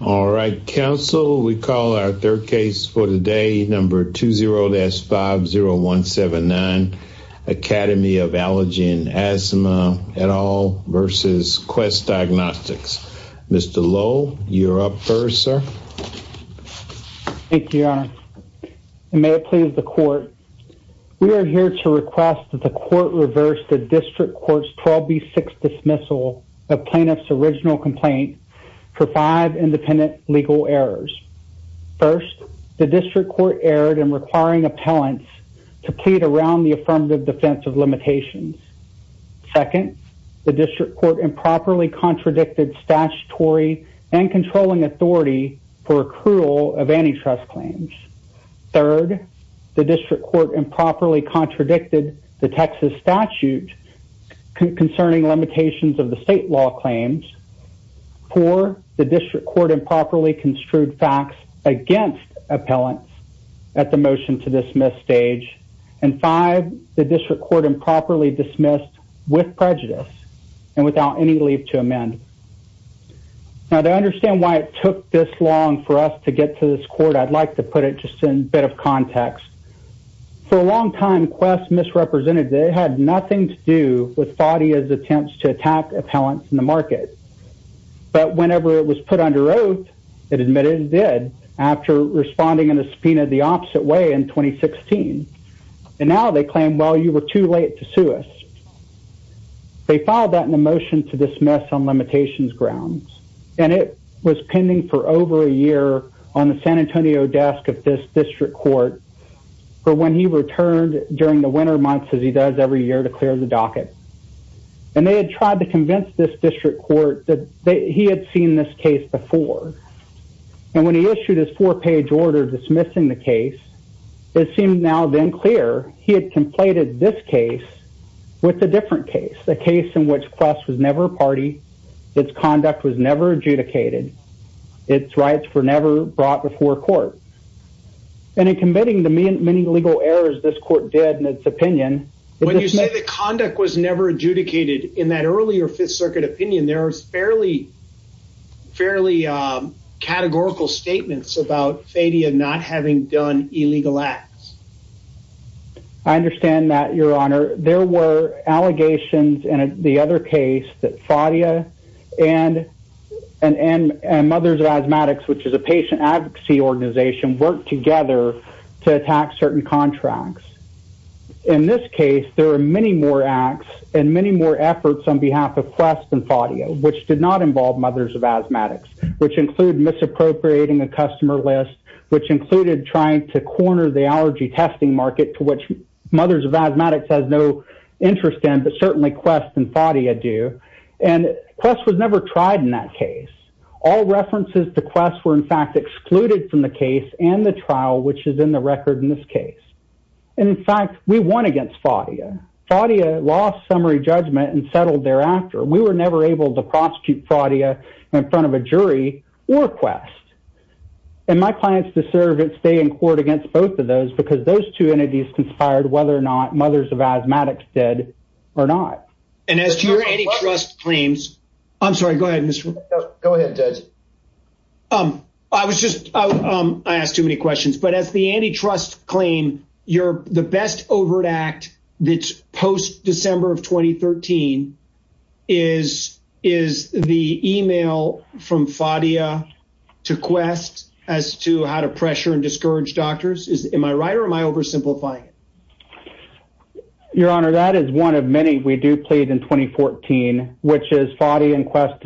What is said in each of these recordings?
All right council we call our third case for today number 20-50179 Academy of Allergy and Asthma et al versus Quest Diagnostics. Mr. Lowe you're up first sir. Thank you your honor and may it please the court we are here to request that the court reverse the legal errors. First the district court erred in requiring appellants to plead around the affirmative defense of limitations. Second the district court improperly contradicted statutory and controlling authority for accrual of antitrust claims. Third the district court improperly contradicted the Texas statute concerning limitations of the state law claims. Four the district court improperly construed facts against appellants at the motion to dismiss stage and five the district court improperly dismissed with prejudice and without any leave to amend. Now to understand why it took this long for us to get to this court I'd like to put it just in a bit of context. For a long time Quest misrepresented they had nothing to do with but whenever it was put under oath it admitted it did after responding in a subpoena the opposite way in 2016 and now they claim well you were too late to sue us. They filed that in a motion to dismiss on limitations grounds and it was pending for over a year on the San Antonio desk of this district court for when he returned during the winter months as he does every year to clear the docket and they had tried to convince this court that he had seen this case before and when he issued his four page order dismissing the case it seemed now then clear he had completed this case with a different case. A case in which Quest was never a party, its conduct was never adjudicated, its rights were never brought before court and in committing the many legal errors this court did in its opinion. When you say the conduct was never adjudicated in that earlier fifth circuit opinion there was fairly categorical statements about Fadia not having done illegal acts. I understand that your honor there were allegations in the other case that Fadia and Mothers of Asthmatics which is a patient organization worked together to attack certain contracts. In this case there are many more acts and many more efforts on behalf of Quest and Fadia which did not involve Mothers of Asthmatics which include misappropriating a customer list which included trying to corner the allergy testing market to which Mothers of Asthmatics has no interest in but certainly Quest and Fadia do and Quest was never tried in that case. All references to Quest were in fact excluded from the case and the trial which is in the record in this case and in fact we won against Fadia. Fadia lost summary judgment and settled thereafter. We were never able to prosecute Fadia in front of a jury or Quest and my clients deserve to stay in court against both of those because those two entities conspired whether or not Mothers of Asthmatics did or not. And as to your antitrust claims I'm sorry go ahead Mr. Go ahead Judge. I was just I asked too many questions but as the antitrust claim you're the best overt act that's post-December of 2013 is is the email from Fadia to Quest as to how to pressure and discourage doctors is am I right or am I oversimplifying? Your honor that is one of many we do plead in 2014 which is Fadia and Quest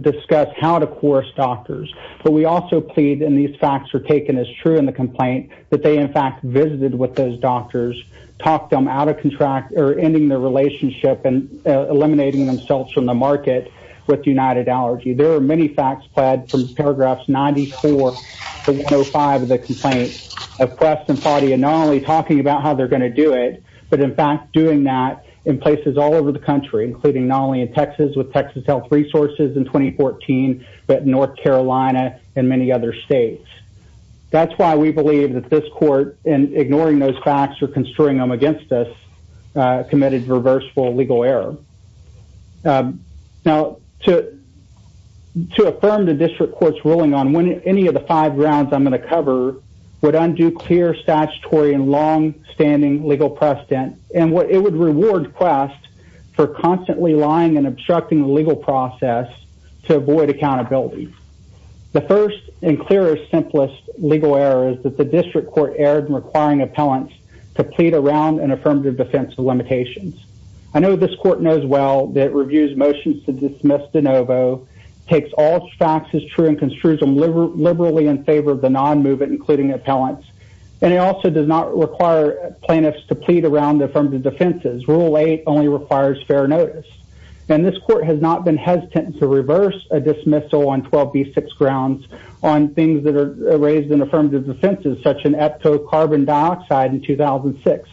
discuss how to coerce doctors but we also plead and these facts are taken as true in the complaint that they in fact visited with those doctors talked them out of contract or ending their relationship and eliminating themselves from the market with there are many facts pled from paragraphs 94 to 105 of the complaint of Quest and Fadia not only talking about how they're going to do it but in fact doing that in places all over the country including not only in Texas with Texas Health Resources in 2014 but North Carolina and many other states. That's why we believe that this court in ignoring those facts or construing them against us committed reversible legal error. Now to to affirm the district court's ruling on when any of the five rounds I'm going to cover would undo clear statutory and long-standing legal precedent and what it would reward Quest for constantly lying and obstructing the legal process to avoid accountability. The first and clearest simplest legal error is that the district court erred in requiring appellants to plead around an affirmative defense of limitations. I know this court knows well that reviews motions to dismiss de novo takes all facts as true and construes them liberally in favor of the non-movement including appellants and it also does not require plaintiffs to plead around the affirmative defenses. Rule eight only requires fair notice and this court has not been hesitant to reverse a dismissal on 12b6 grounds on things that are raised in carbon dioxide in 2006.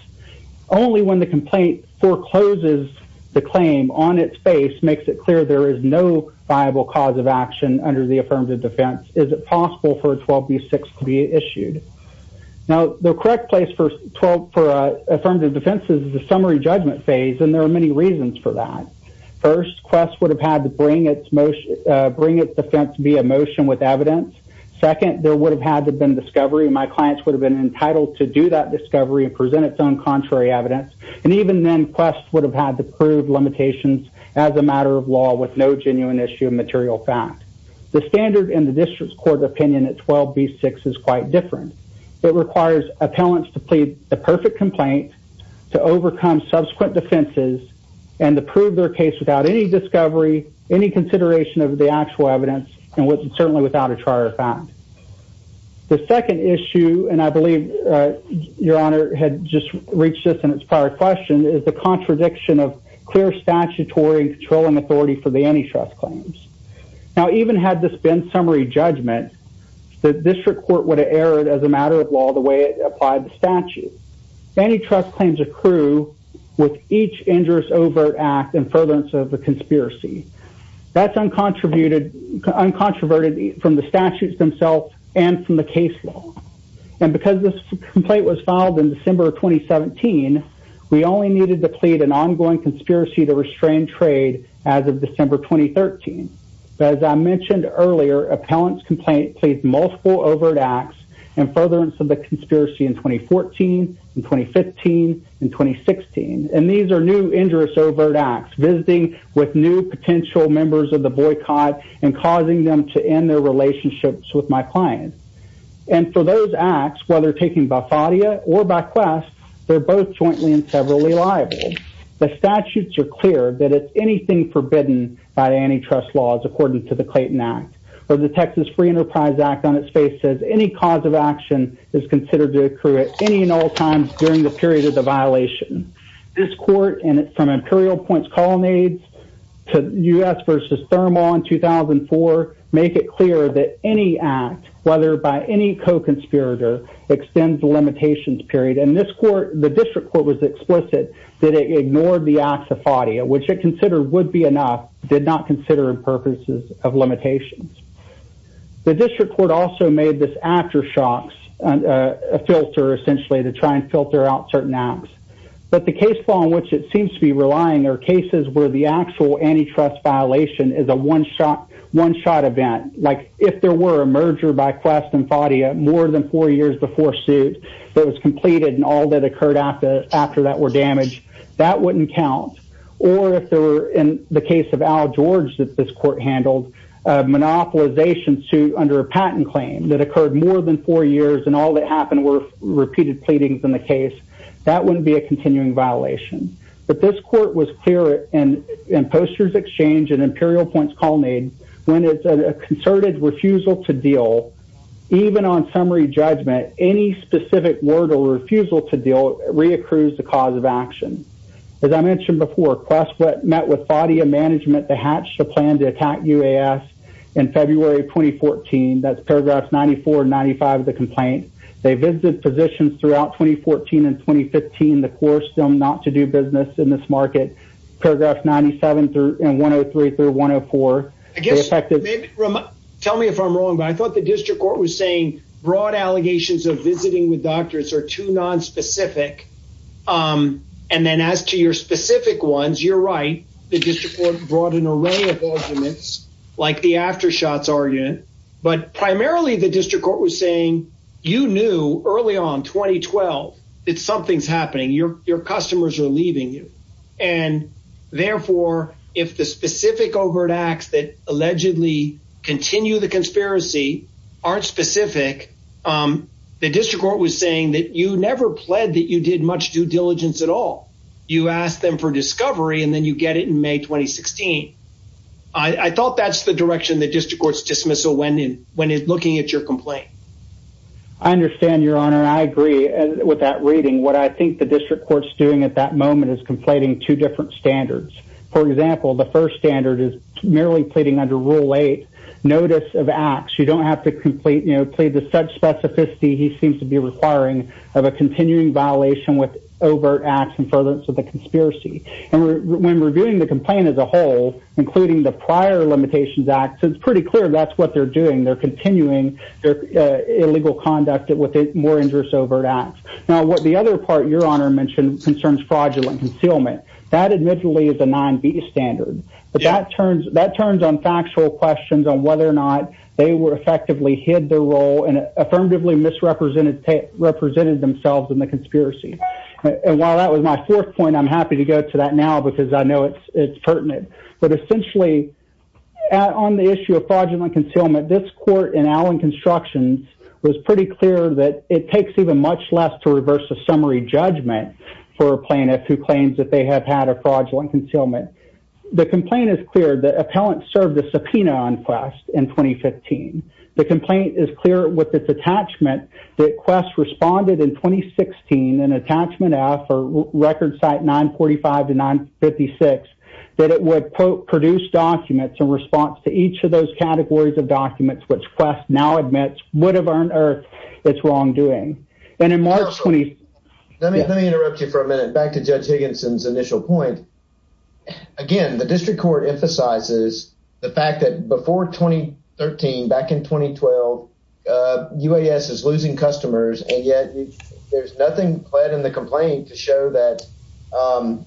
Only when the complaint forecloses the claim on its face makes it clear there is no viable cause of action under the affirmative defense is it possible for 12b6 to be issued. Now the correct place for affirmative defense is the summary judgment phase and there are many reasons for that. First Quest would have had to bring its motion bring its defense via evidence. Second there would have had to have been discovery. My clients would have been entitled to do that discovery and present its own contrary evidence and even then Quest would have had to prove limitations as a matter of law with no genuine issue of material fact. The standard in the district court opinion at 12b6 is quite different. It requires appellants to plead the perfect complaint to overcome subsequent defenses and to prove their case without any discovery, any consideration of the actual evidence and certainly without a trier of fact. The second issue and I believe your honor had just reached this in its prior question is the contradiction of clear statutory and controlling authority for the antitrust claims. Now even had this been summary judgment the district court would have erred as a matter of law the way it applied the statute. Antitrust claims accrue with each injurious overt act and furtherance of the that's uncontroverted from the statutes themselves and from the case law and because this complaint was filed in December 2017 we only needed to plead an ongoing conspiracy to restrain trade as of December 2013. As I mentioned earlier appellant's complaint pleads multiple overt acts and furtherance of the conspiracy in 2014 and 2015 and 2016 and these are new injurious overt acts visiting with new potential members of the boycott and causing them to end their relationships with my client and for those acts whether taking by Fadia or by quest they're both jointly and severally liable. The statutes are clear that it's anything forbidden by antitrust laws according to the Clayton Act or the Texas Free Enterprise Act on its face says any cause of action is considered to accrue at any and all times during the period of the violation. This court and from imperial points colonnades to U.S. versus Thermal in 2004 make it clear that any act whether by any co-conspirator extends the limitations period and this court the district court was explicit that it ignored the acts of Fadia which it considered would be enough did not consider purposes of limitations. The district court also made this aftershocks a filter essentially to try and filter out certain acts but the case on which it seems to be relying are cases where the actual antitrust violation is a one shot one shot event like if there were a merger by quest and Fadia more than four years before suit that was completed and all that occurred after that were damaged that wouldn't count or if there were in the case of Al George that this court handled monopolization suit under a patent claim that occurred more than four years and all that happened were repeated pleadings in the case that wouldn't be a continuing violation but this court was clear and in posters exchange and imperial points colonnade when it's a concerted refusal to deal even on summary judgment any specific word or refusal to deal reaccrues the cause of action as I mentioned before quest met with Fadia management to hatch the plan to attack UAS in February 2014 that's paragraphs 94 and 95 of the complaint they visited positions throughout 2014 and 2015 the core still not to do business in this market paragraph 97 through and 103 through I guess maybe tell me if I'm wrong but I thought the district court was saying broad allegations of visiting with doctors are too non-specific and then as to your specific ones you're right the district court brought an array of arguments like the after shots argument but primarily the district court was saying you knew early on 2012 that something's happening your customers are leaving you and therefore if the specific overt acts that allegedly continue the conspiracy aren't specific the district court was saying that you never pled that you did much due diligence at all you ask them for discovery and then you get it in May 2016 I thought that's the direction the district court's dismissal when in when it's looking at your complaint I understand your honor I agree and with that reading what I think the district court's doing at that moment is conflating two different standards for example the first standard is merely pleading under rule 8 notice of acts you don't have to complete you know plead to such specificity he seems to be requiring of a continuing violation with overt acts and furtherance of the conspiracy and when reviewing the complaint as a whole including the prior limitations act so it's pretty clear that's what they're doing they're continuing their illegal conduct with more interest overt acts now what the other part your honor mentioned concerns fraudulent concealment that admittedly is a 9b standard but that turns that turns on factual questions on whether or not they were effectively hid their role and affirmatively misrepresented represented themselves in the conspiracy and while that was my fourth point I'm happy to go to that now because I know it's pertinent but essentially on the issue of fraudulent concealment this court in alan constructions was pretty clear that it takes even much less to reverse the summary judgment for a plaintiff who claims that they have had a fraudulent concealment the complaint is clear the appellant served a subpoena on quest in 2015 the complaint is clear with its attachment that quest responded in 2016 and attachment f or record site 945 to 956 that it would produce documents in response to each of those categories of documents which quest now admits would have earned earth its wrongdoing and in march let me interrupt you for a minute back to judge higginson's initial point again the district court emphasizes the fact that before 2013 back in 2012 uh uas is losing customers and yet there's nothing pled in the complaint to show that um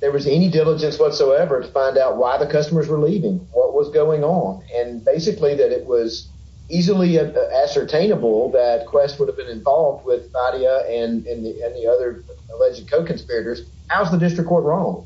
there was any diligence whatsoever to find out why the customers were leaving what was going on and basically that it was easily ascertainable that quest would have been involved with nadia and and the other alleged co-conspirators how's the district court wrong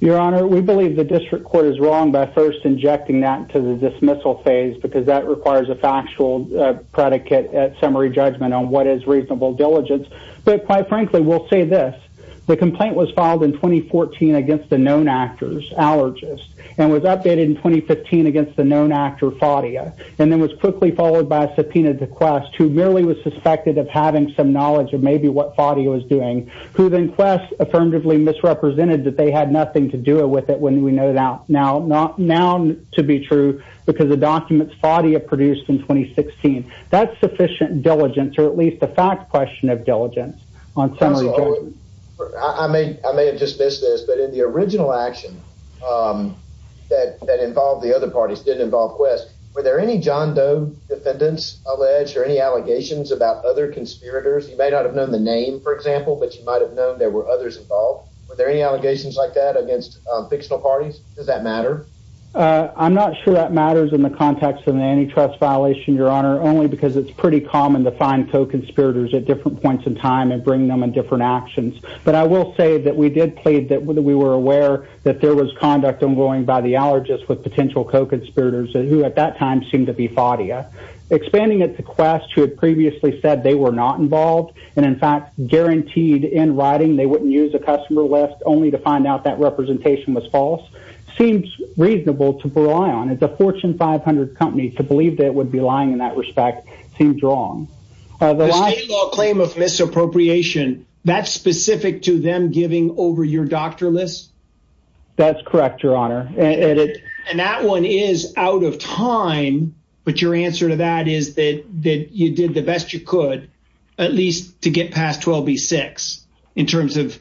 your honor we believe the district court is wrong by first injecting that to the dismissal phase because that requires a factual uh predicate at summary judgment on what is reasonable diligence but quite frankly we'll say this the complaint was filed in 2014 against the known actors allergist and was updated in 2015 against the known actor fadia and then was quickly followed by a subpoena to quest who merely was suspected of having some knowledge of maybe what fadi was doing who then quest affirmatively misrepresented that they had nothing to do with it when we know that now not now to be true because the documents fadia produced in 2016 that's sufficient diligence or at least a fact question of diligence on some of the i may i may have dismissed this but in the original action um that that involved the other parties didn't involve quest were there any john doe defendants alleged or any allegations about other conspirators you may not have known the example but you might have known there were others involved were there any allegations like that against fictional parties does that matter i'm not sure that matters in the context of the antitrust violation your honor only because it's pretty common to find co-conspirators at different points in time and bring them in different actions but i will say that we did plead that we were aware that there was conduct ongoing by the allergist with potential co-conspirators who at that time seemed to be fadia expanding it to quest who had previously said they were not involved and in fact guaranteed in writing they wouldn't use a customer list only to find out that representation was false seems reasonable to rely on it's a fortune 500 company to believe that it would be lying in that respect seems wrong the state law claim of misappropriation that's specific to them giving over your doctor list that's correct your honor and that one is out of time but your answer to that is that that you did the best you could at least to get past 12 b6 in terms of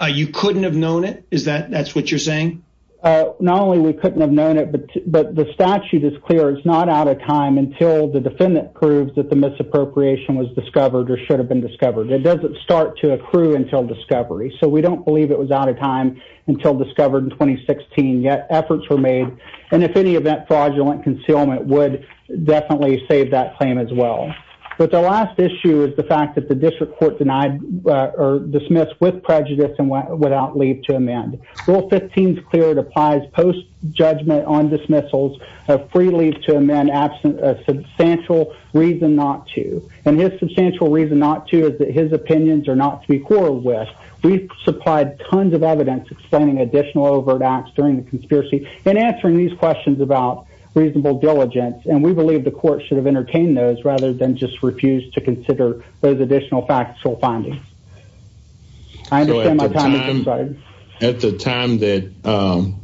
uh you couldn't have known it is that that's what you're saying uh not only we couldn't have known it but but the statute is clear it's not out of time until the defendant proves that the misappropriation was discovered or should have been discovered it doesn't start to accrue until discovery so we don't believe it was out of time until discovered in 2016 yet efforts were made and if any event fraudulent concealment would definitely save that claim as well but the last issue is the fact that the district court denied or dismissed with prejudice and without leave to amend rule 15 is clear it applies post judgment on dismissals of free leave to amend absent a substantial reason not to and his substantial reason not to is that his opinions are not to be quarreled with we've supplied tons of evidence explaining additional overt acts during conspiracy and answering these questions about reasonable diligence and we believe the court should have entertained those rather than just refuse to consider those additional factual findings i understand my time at the time that um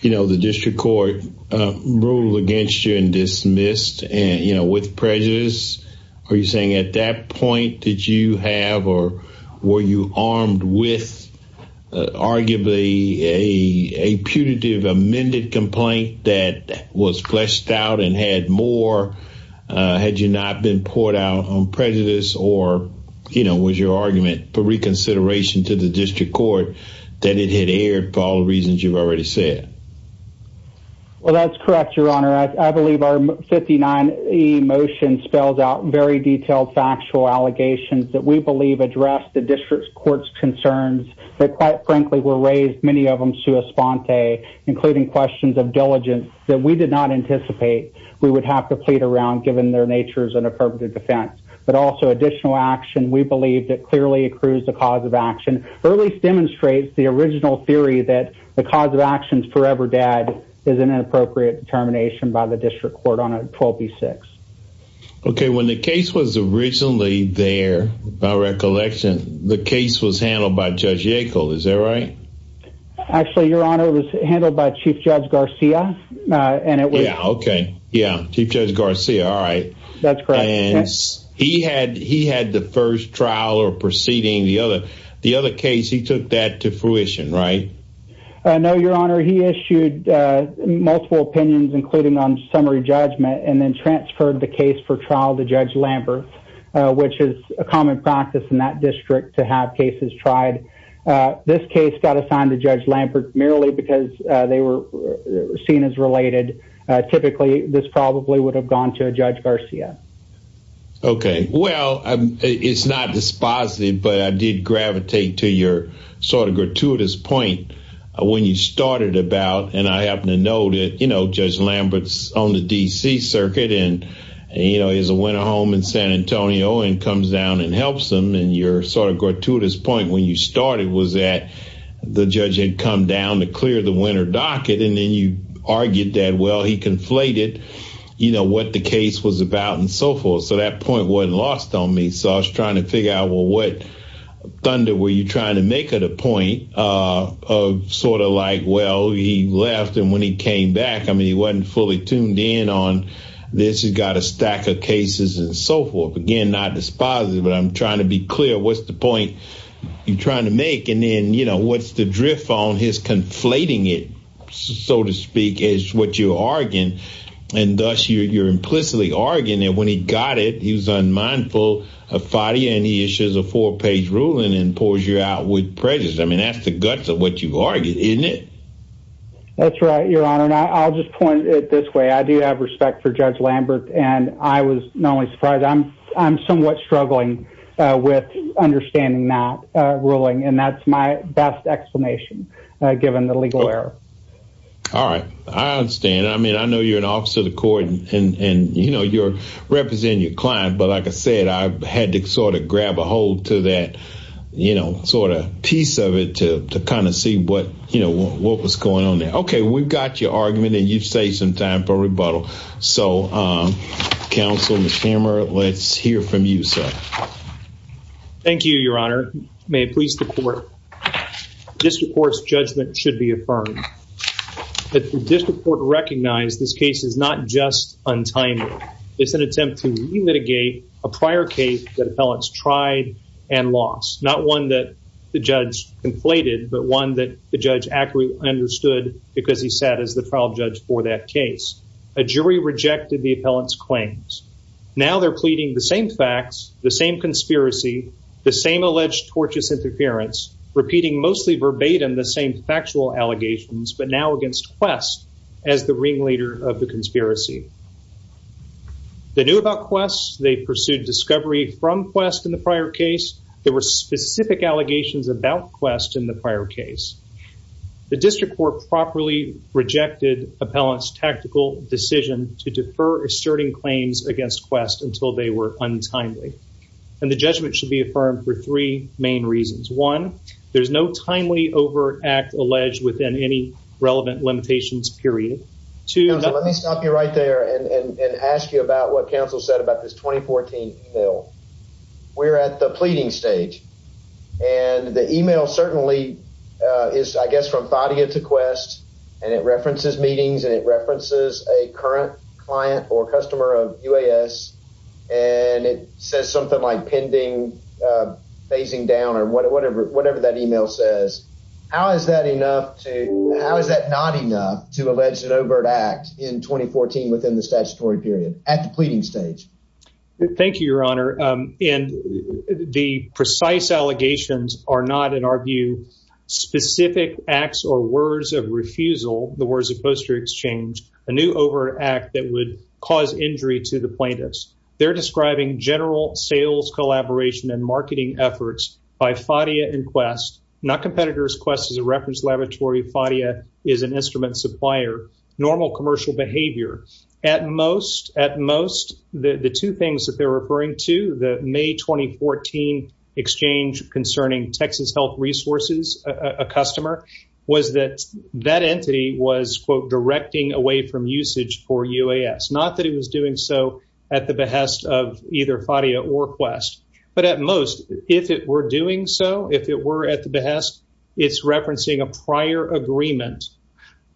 you know the district court uh ruled against you and dismissed and you know with prejudice are you saying at that point did you have or were you armed with arguably a a putative amended complaint that was fleshed out and had more uh had you not been poured out on prejudice or you know was your argument for reconsideration to the district court that it had aired for all the reasons you've already said well that's correct your honor i believe our 59e motion spells out very detailed factual allegations that we believe address the concerns that quite frankly were raised many of them sua sponte including questions of diligence that we did not anticipate we would have to plead around given their natures and affirmative defense but also additional action we believe that clearly accrues the cause of action or at least demonstrates the original theory that the cause of actions forever dead is an inappropriate determination by the district court on 126 okay when the case was originally there by recollection the case was handled by judge yackel is that right actually your honor was handled by chief judge garcia and it was okay yeah chief judge garcia all right that's correct and he had he had the first trial or proceeding the other the other case he took that to fruition right i know your honor he issued uh multiple opinions including on summary judgment and then transferred the case for trial to judge lambert which is a common practice in that district to have cases tried this case got assigned to judge lambert merely because they were seen as related typically this probably would have gone to a judge garcia okay well it's not dispositive but i did gravitate to your sort of gratuitous point when you started about and i happen to know that you know judge on the dc circuit and you know he's a winner home in san antonio and comes down and helps them and you're sort of gratuitous point when you started was that the judge had come down to clear the winner docket and then you argued that well he conflated you know what the case was about and so forth so that point wasn't lost on me so i was trying to figure out well what thunder were you trying to make at a point uh of sort of like well he left and when he came back i mean he wasn't fully tuned in on this he's got a stack of cases and so forth again not dispositive but i'm trying to be clear what's the point you're trying to make and then you know what's the drift on his conflating it so to speak is what you're arguing and thus you're implicitly arguing and when he got he was unmindful of fadi and he issues a four-page ruling and pours you out with prejudice i mean that's the guts of what you've argued isn't it that's right your honor and i'll just point it this way i do have respect for judge lambert and i was not only surprised i'm i'm somewhat struggling uh with understanding that uh ruling and that's my best explanation uh given the legal error all right i understand i mean i know you're an officer of the court and and you know you're representing your client but like i said i had to sort of grab a hold to that you know sort of piece of it to to kind of see what you know what was going on there okay we've got your argument and you've saved some time for rebuttal so um counsel mchammer let's hear from you sir thank you your honor may it please the court district court's judgment should be affirmed that the it's an attempt to re-mitigate a prior case that appellants tried and lost not one that the judge conflated but one that the judge accurately understood because he sat as the trial judge for that case a jury rejected the appellant's claims now they're pleading the same facts the same conspiracy the same alleged tortious interference repeating mostly verbatim the same factual allegations but now against quest as the ringleader of the conspiracy they knew about quest they pursued discovery from quest in the prior case there were specific allegations about quest in the prior case the district court properly rejected appellant's tactical decision to defer asserting claims against quest until they were untimely and the judgment should be affirmed for three main reasons one there's no timely overt act alleged within any i'll be right there and and ask you about what counsel said about this 2014 email we're at the pleading stage and the email certainly uh is i guess from thadia to quest and it references meetings and it references a current client or customer of uas and it says something like pending uh phasing down or whatever whatever that email says how is that enough to how is that not enough to allege an overt act in 2014 within the statutory period at the pleading stage thank you your honor and the precise allegations are not in our view specific acts or words of refusal the words of poster exchange a new overt act that would cause injury to the plaintiffs they're describing general sales collaboration and marketing efforts by phadia and quest not competitors quest is a laboratory phadia is an instrument supplier normal commercial behavior at most at most the the two things that they're referring to the may 2014 exchange concerning texas health resources a customer was that that entity was quote directing away from usage for uas not that it was doing so at the behest of either phadia or quest but at most if it were doing so if it were at the behest it's referencing a prior agreement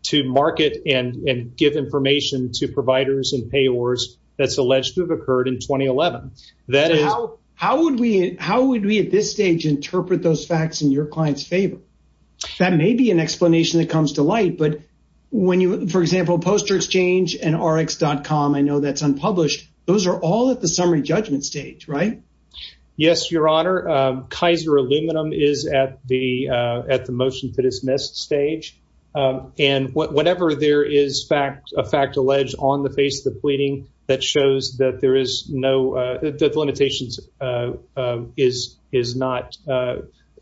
to market and and give information to providers and payors that's alleged to have occurred in 2011 that is how how would we how would we at this stage interpret those facts in your client's favor that may be an explanation that comes to light but when you for example poster exchange and rx.com i know that's unpublished those are all at the motion to dismiss stage and whatever there is fact a fact alleged on the face of the pleading that shows that there is no uh that the limitations uh uh is is not uh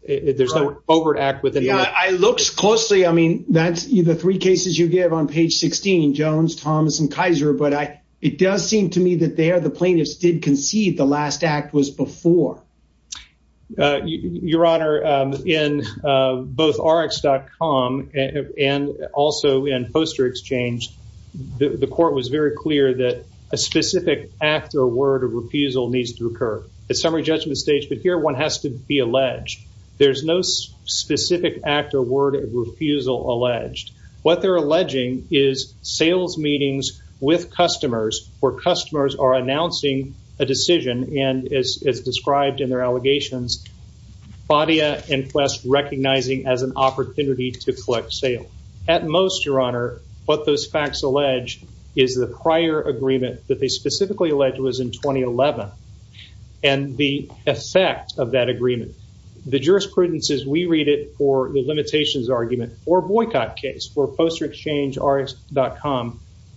there's no overt act within i looks closely i mean that's either three cases you give on page 16 jones thomas and kaiser but i it does seem to me that they are the plaintiffs did concede the last act was before uh your honor um in uh both rx.com and also in poster exchange the court was very clear that a specific act or word of refusal needs to occur at summary judgment stage but here one has to be alleged there's no specific act or word of refusal alleged what they're alleging is sales meetings with customers where customers are announcing a decision and as described in their allegations bodia and quest recognizing as an opportunity to collect sale at most your honor what those facts allege is the prior agreement that they specifically alleged was in 2011 and the effect of that agreement the jurisprudence is we read it for the limitations argument or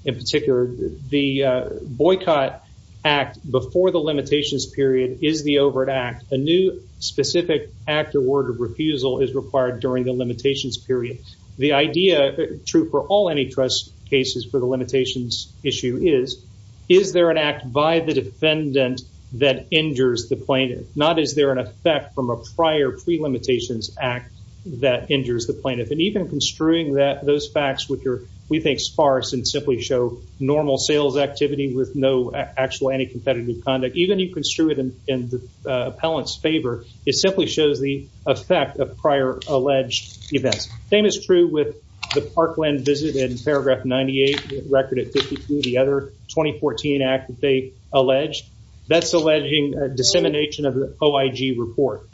in particular the uh boycott act before the limitations period is the overt act a new specific act or word of refusal is required during the limitations period the idea true for all any trust cases for the limitations issue is is there an act by the defendant that injures the plaintiff not is there an effect from a prior pre-limitations act that injures the plaintiff and even construing that those facts which are we think sparse and simply show normal sales activity with no actual anti-competitive conduct even you construe it in the appellant's favor it simply shows the effect of prior alleged events same is true with the parkland visit in paragraph 98 record at 52 the other 2014 act they alleged that's alleging a dissemination of the oig report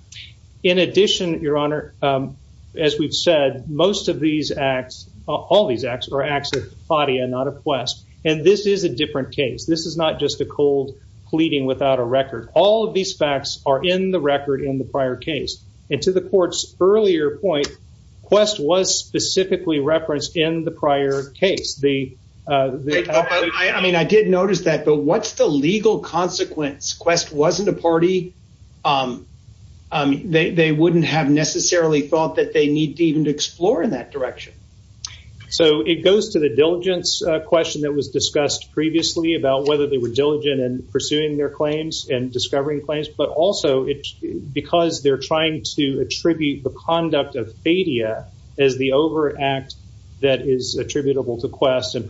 in addition your honor um as we've said most of these acts all these acts are acts of fadia not a quest and this is a different case this is not just a cold pleading without a record all of these facts are in the record in the prior case and to the court's earlier point quest was specifically referenced in the prior case the uh i mean i did notice that but what's the legal consequence quest wasn't a party um they they wouldn't have necessarily thought that they need to even explore in that direction so it goes to the diligence question that was discussed previously about whether they were diligent in pursuing their claims and discovering claims but also it's because they're trying to attribute the conduct of fadia as the over act that is attributable to quest and the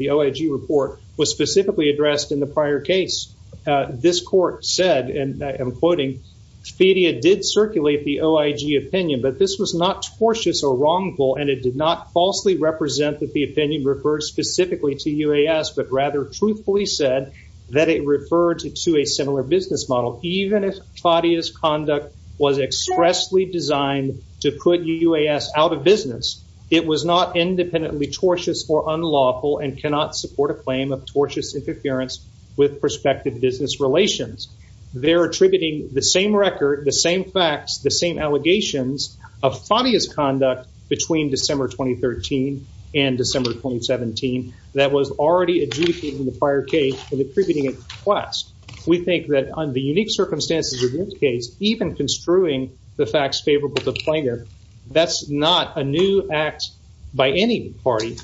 the oig report was specifically addressed in the prior case uh this court said and i am quoting fedia did circulate the oig opinion but this was not tortious or wrongful and it did not falsely represent that the opinion referred specifically to uas but rather truthfully said that it referred to a similar business model even if fadia's conduct was expressly designed to put out of business it was not independently tortious or unlawful and cannot support a claim of tortious interference with prospective business relations they're attributing the same record the same facts the same allegations of fadia's conduct between december 2013 and december 2017 that was already adjudicating the prior case and attributing it to quest we think that under unique circumstances even construing the facts favorable to planar that's not a new act by any party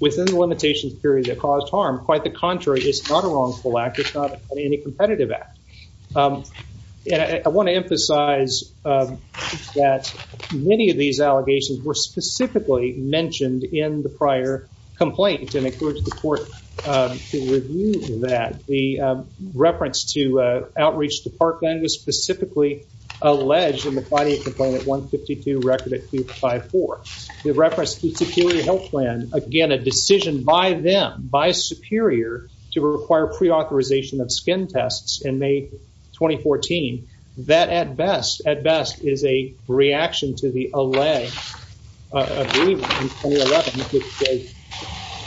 within the limitations period that caused harm quite the contrary it's not a wrongful act it's not any competitive act and i want to emphasize that many of these allegations were specifically mentioned in the prior complaint and it goes to the court to review that the reference to outreach department was specifically alleged in the body complaint at 152 record at 554 the reference to superior health plan again a decision by them by superior to require pre-authorization of skin tests in may 2014 that at best at best is a reaction to the allay in 2011 which they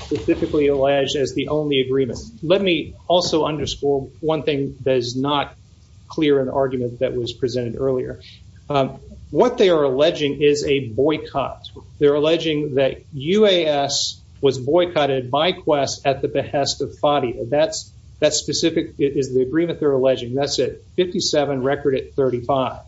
specifically allege as the only agreement let me also underscore one thing that is not clear an argument that was presented earlier what they are alleging is a boycott they're alleging that uas was boycotted by quest at the behest of fadi that's that specific is the agreement they're alleging that's it 57 record at 35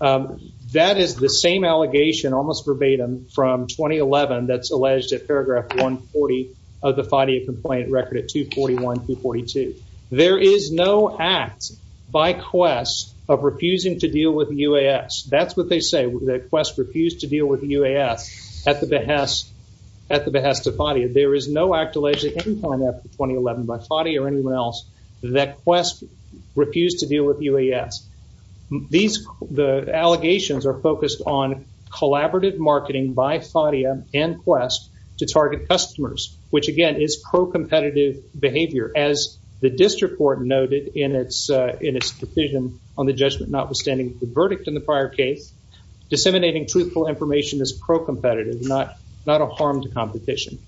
um that is the same allegation almost verbatim from 2011 that's alleged at paragraph 140 of the fadi complaint record at 241 242 there is no act by quest of refusing to deal with uas that's what they say that quest refused to deal with uas at the behest at the behest of fadi there is no act alleged at any point after 2011 by fadi or anyone else that quest refused to deal with uas these the allegations are focused on collaborative marketing by fadia and quest to target customers which again is pro-competitive behavior as the district court noted in its uh in its decision on the judgment notwithstanding the verdict in the prior case disseminating truthful information is pro-competitive not not a harm to competition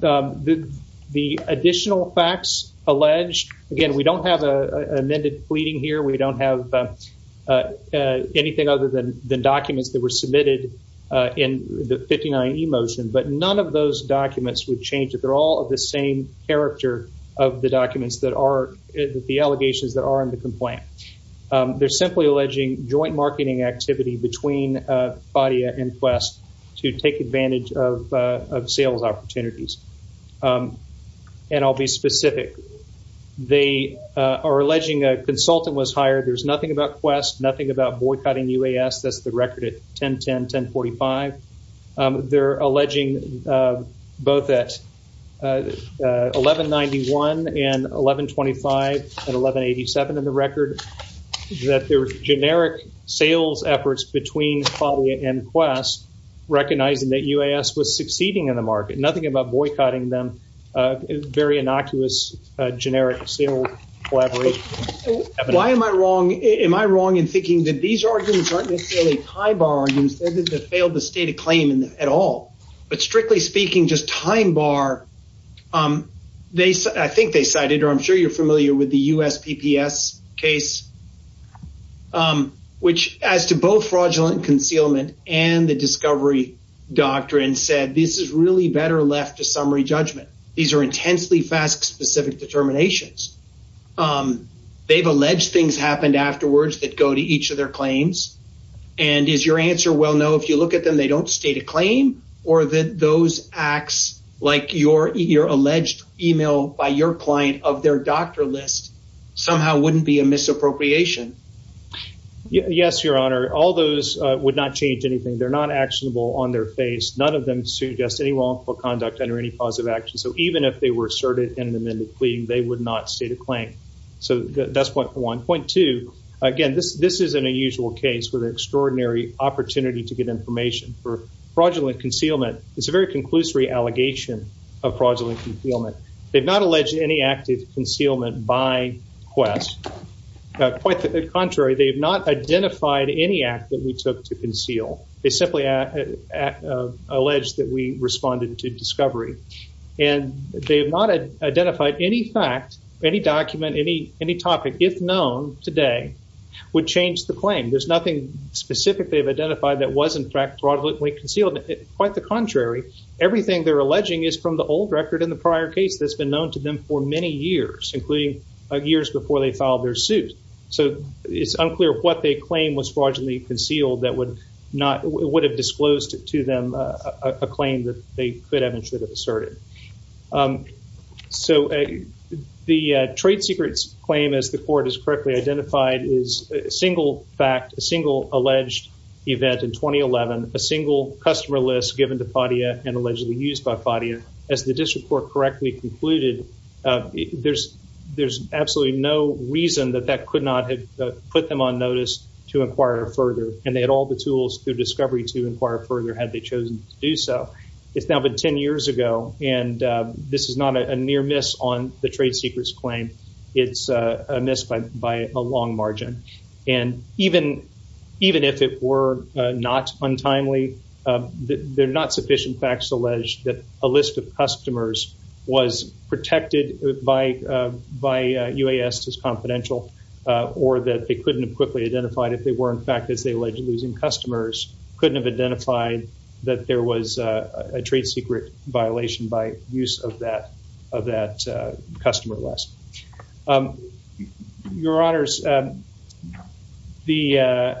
the the additional facts alleged again we don't have a amended pleading here we don't have uh uh anything other than the documents that were submitted uh in the 59e motion but none of those documents would change that they're all of the same character of the documents that are the allegations that are in the complaint um they're simply alleging joint marketing activity between uh fadia and quest to take advantage of uh of sales opportunities um and i'll be specific they uh are alleging a consultant was hired there's nothing about quest nothing about boycotting uas that's the record at 10 10 10 45 um they're alleging uh both at 11 91 and 11 25 and 11 87 in the record that there were generic sales efforts between fadia and quest recognizing that uas was succeeding in the market nothing about boycotting them uh very innocuous uh generic sale collaboration why am i wrong am i wrong in thinking that these arguments aren't necessarily pie bar and said that they failed the state of claim in at all but strictly speaking just time bar um they said i think they cited or i'm sure you're familiar with the us pps case um which as to both fraudulent concealment and the discovery doctrine said this is really better left to summary judgment these are intensely fast specific determinations um they've alleged things happened afterwards that go to each of their claims and is your answer well no if you look at them they don't state a claim or that those acts like your your alleged email by your client of their doctor list somehow wouldn't be a misappropriation yes your honor all those uh would not change anything they're not actionable on their face none of them suggest any wrongful conduct under any positive action so even if they were asserted in an amended plea they would not state a claim so that's point one point two again this this isn't a usual case with an extraordinary opportunity to get information for fraudulent concealment it's a very conclusory allegation of fraudulent concealment they've not alleged any active concealment by quest quite the contrary they have not identified any act that we took to conceal they simply uh uh alleged that we responded to discovery and they have not identified any fact any document any any topic if known today would change the claim there's nothing specific they've identified that was in fact fraudulently concealed quite the contrary everything they're alleging is from the old record in the prior case that's been known to them for many years including years before they filed their suit so it's unclear what they claim was fraudulently concealed that would not would have disclosed to them a claim that they could have insured of asserted um so the uh trade secrets claim as the court has correctly identified is a single fact a single alleged event in 2011 a single customer list given to Fadia and allegedly used by Fadia as the district court correctly concluded uh there's there's absolutely no reason that that could not have put them on notice to inquire further and they had all the tools through discovery to inquire further had they chosen to do so it's now been 10 years ago and this is not a near miss on the trade secrets claim it's a miss by by a long margin and even even if it were not untimely they're not sufficient facts allege that a list of customers was protected by by UAS as confidential or that they couldn't have quickly identified if they were in fact as they alleged losing customers couldn't have identified that there was a trade secret violation by use of that of that uh customer list um your honors um the uh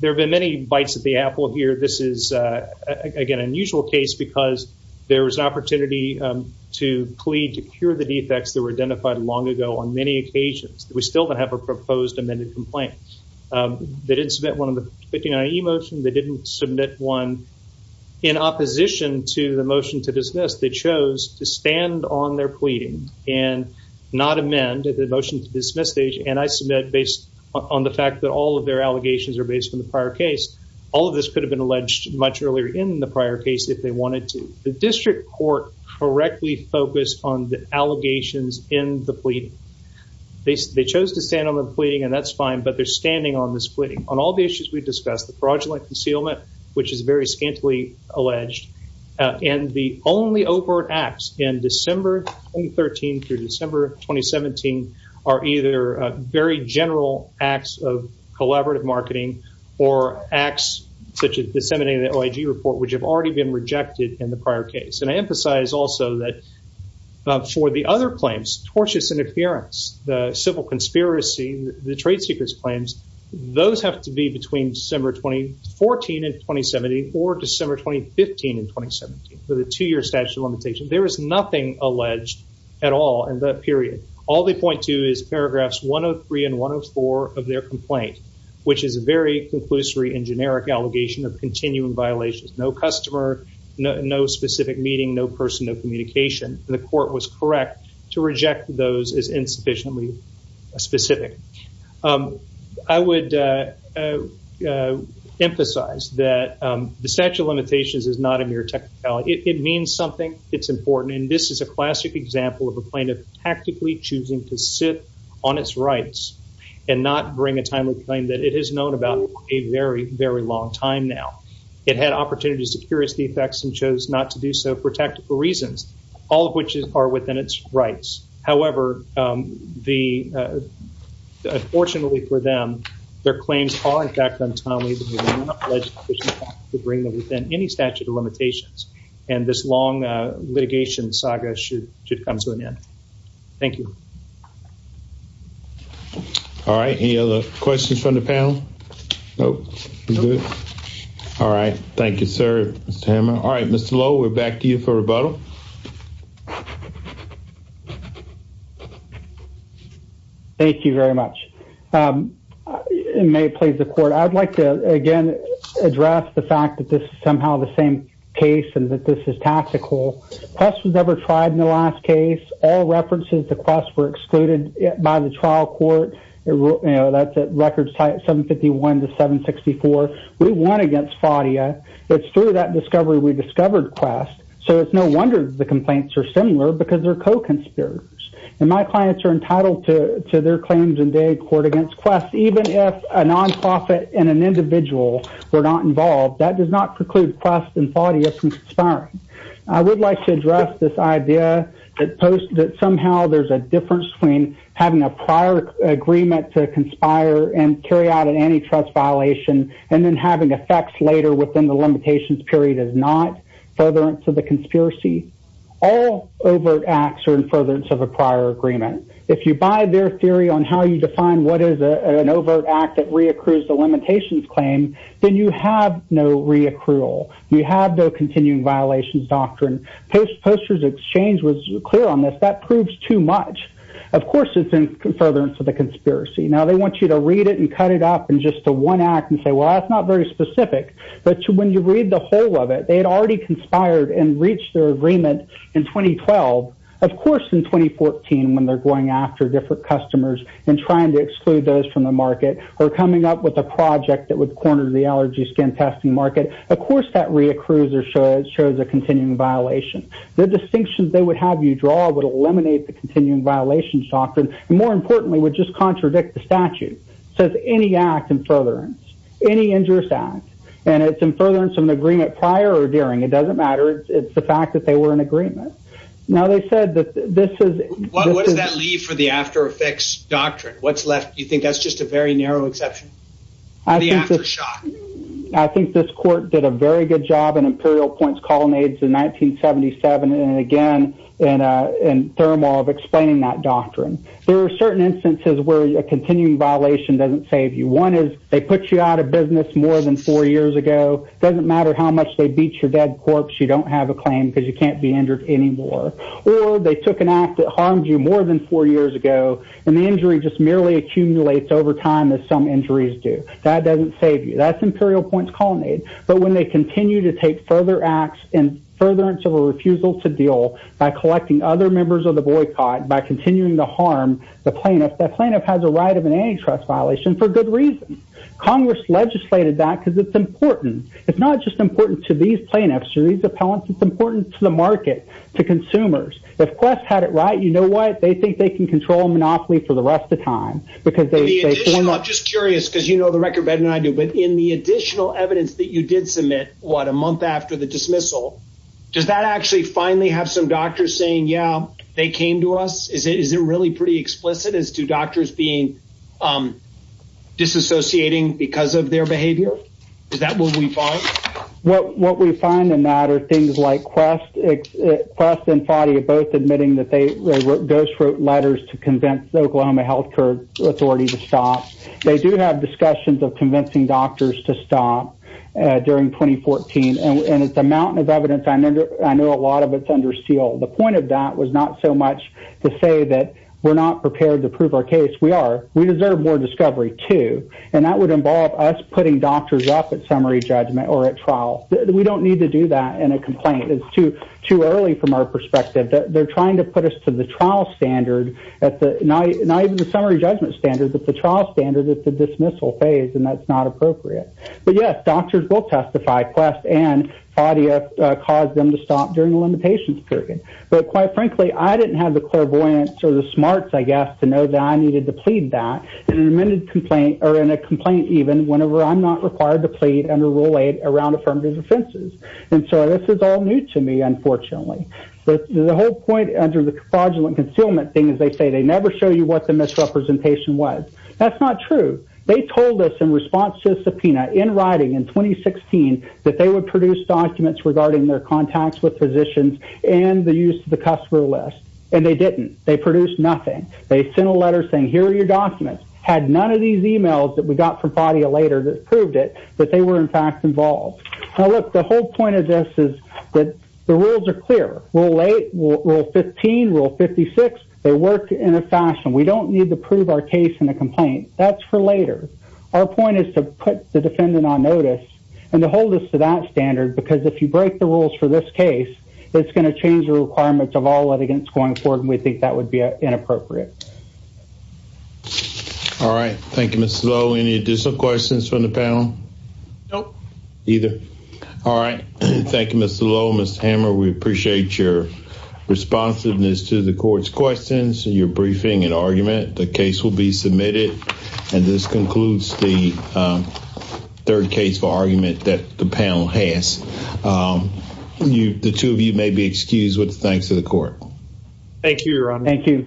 there have been many bites at the apple here this is uh again unusual case because there was an opportunity um to plead to cure the defects that were identified long ago on many occasions we still don't have a proposed amended complaint um they didn't submit one of the 59e motion they didn't submit one in opposition to the motion to dismiss they chose to stand on their pleading and not amend the motion to dismiss stage and i submit based on the fact that all of their allegations are based on the prior case all of this could have been alleged much earlier in the prior case if they wanted to the district court correctly focused on the allegations in the pleading they chose to stand on the pleading and that's fine but they're standing on this pleading on all the issues we discussed the fraudulent concealment which is very scantily alleged and the only overt acts in december 2013 through december 2017 are either very general acts of collaborative marketing or acts such as disseminating the oig report which have already been rejected in the prior case and i emphasize also that for the other claims tortious interference the civil conspiracy the trade secrets claims those have to be between december 2014 and 2017 or december 2015 and 2017 with a two-year statute of limitations there is nothing alleged at all in that period all they point to is paragraphs 103 and 104 of their complaint which is a very conclusory and generic allegation of continuing violations no customer no specific meeting no personal communication the court was correct to reject those as insufficiently specific i would emphasize that the statute of limitations is not a mere technicality it means something it's important and this is a classic example of a plaintiff tactically choosing to sit on its rights and not bring a timely claim that it has known about a very very long time now it had opportunities to cure its defects and chose not to do so for tactical reasons all of which are within its rights however um the uh unfortunately for them their claims are in fact untimely to bring them within any statute of limitations and this long uh litigation saga should should come to an end thank you all right any other questions from the panel nope all right thank you sir mr hammer all right mr low we're back to you for rebuttal thank you very much um it may please the court i'd like to again address the fact that this is somehow the same case and that this is tactical quest was never tried in the last case all 151 to 764 we won against faudia it's through that discovery we discovered quest so it's no wonder the complaints are similar because they're co-conspirators and my clients are entitled to to their claims and they court against quest even if a non-profit and an individual were not involved that does not preclude quest and faudia from conspiring i would like to address this idea that post that somehow there's a difference between having a prior agreement to conspire and carry out an antitrust violation and then having effects later within the limitations period is not furtherance of the conspiracy all overt acts are in furtherance of a prior agreement if you buy their theory on how you define what is a an overt act that re-accrues the limitations claim then you have no re-accrual you have no continuing violations doctrine post posters exchange was clear on this that proves too much of course it's in furtherance of the conspiracy now they want you to read it and cut it up in just a one act and say well that's not very specific but when you read the whole of it they had already conspired and reached their agreement in 2012 of course in 2014 when they're going after different customers and trying to exclude those from the market or coming up with a project that would corner the allergy skin testing market of course that re-accrues or shows shows a continuing violation the distinctions they would have you draw would eliminate the continuing violations doctrine and more importantly would just contradict the statute says any act in furtherance any injurious act and it's in furtherance of an agreement prior or during it doesn't matter it's the fact that they were in agreement now they said that this is what does that leave for the after effects doctrine what's left do you think that's just a very narrow exception i think after shock i think this court did a very good job in imperial points colonnades in 1977 and again in uh in thermal of explaining that where a continuing violation doesn't save you one is they put you out of business more than four years ago doesn't matter how much they beat your dead corpse you don't have a claim because you can't be injured anymore or they took an act that harmed you more than four years ago and the injury just merely accumulates over time as some injuries do that doesn't save you that's imperial points colonnade but when they continue to take further acts in furtherance of a refusal to deal by has a right of an antitrust violation for good reason congress legislated that because it's important it's not just important to these plaintiffs to these appellants it's important to the market to consumers if quest had it right you know what they think they can control monopoly for the rest of time because i'm just curious because you know the record better than i do but in the additional evidence that you did submit what a month after the dismissal does that actually finally have some doctors saying yeah they came to us is it really pretty explicit as to doctors being um disassociating because of their behavior is that what we find what what we find in that are things like quest quest and fadi both admitting that they they were ghost wrote letters to convince oklahoma health care authority to stop they do have discussions of convincing doctors to stop during 2014 and it's a mountain of evidence i know i know a lot of it's under seal the point of that was not so much to say that we're not prepared to prove our case we are we deserve more discovery too and that would involve us putting doctors up at summary judgment or at trial we don't need to do that in a complaint it's too too early from our perspective that they're trying to put us to the trial standard at the night not even the summary judgment standard but the trial standard at the dismissal phase and that's not appropriate but yes doctors will but quite frankly i didn't have the clairvoyance or the smarts i guess to know that i needed to plead that in an amended complaint or in a complaint even whenever i'm not required to plead under rule eight around affirmative offenses and so this is all new to me unfortunately but the whole point under the fraudulent concealment thing is they say they never show you what the misrepresentation was that's not true they told us in response to the subpoena in writing in 2016 that they would produce documents regarding their contacts with physicians and the use of the customer list and they didn't they produced nothing they sent a letter saying here are your documents had none of these emails that we got from Fadia later that proved it that they were in fact involved now look the whole point of this is that the rules are clear rule eight rule 15 rule 56 they work in a fashion we don't need to prove our case in a complaint that's for later our point is to put the defendant on notice and to hold us to that standard because if you break the rules for this case it's going to change the requirements of all litigants going forward we think that would be inappropriate all right thank you Mr. Lowe any additional questions from the panel nope either all right thank you Mr. Lowe Mr. Hammer we appreciate your responsiveness to the court's questions and your briefing and argument the case will be you the two of you may be excused with thanks to the court thank you thank you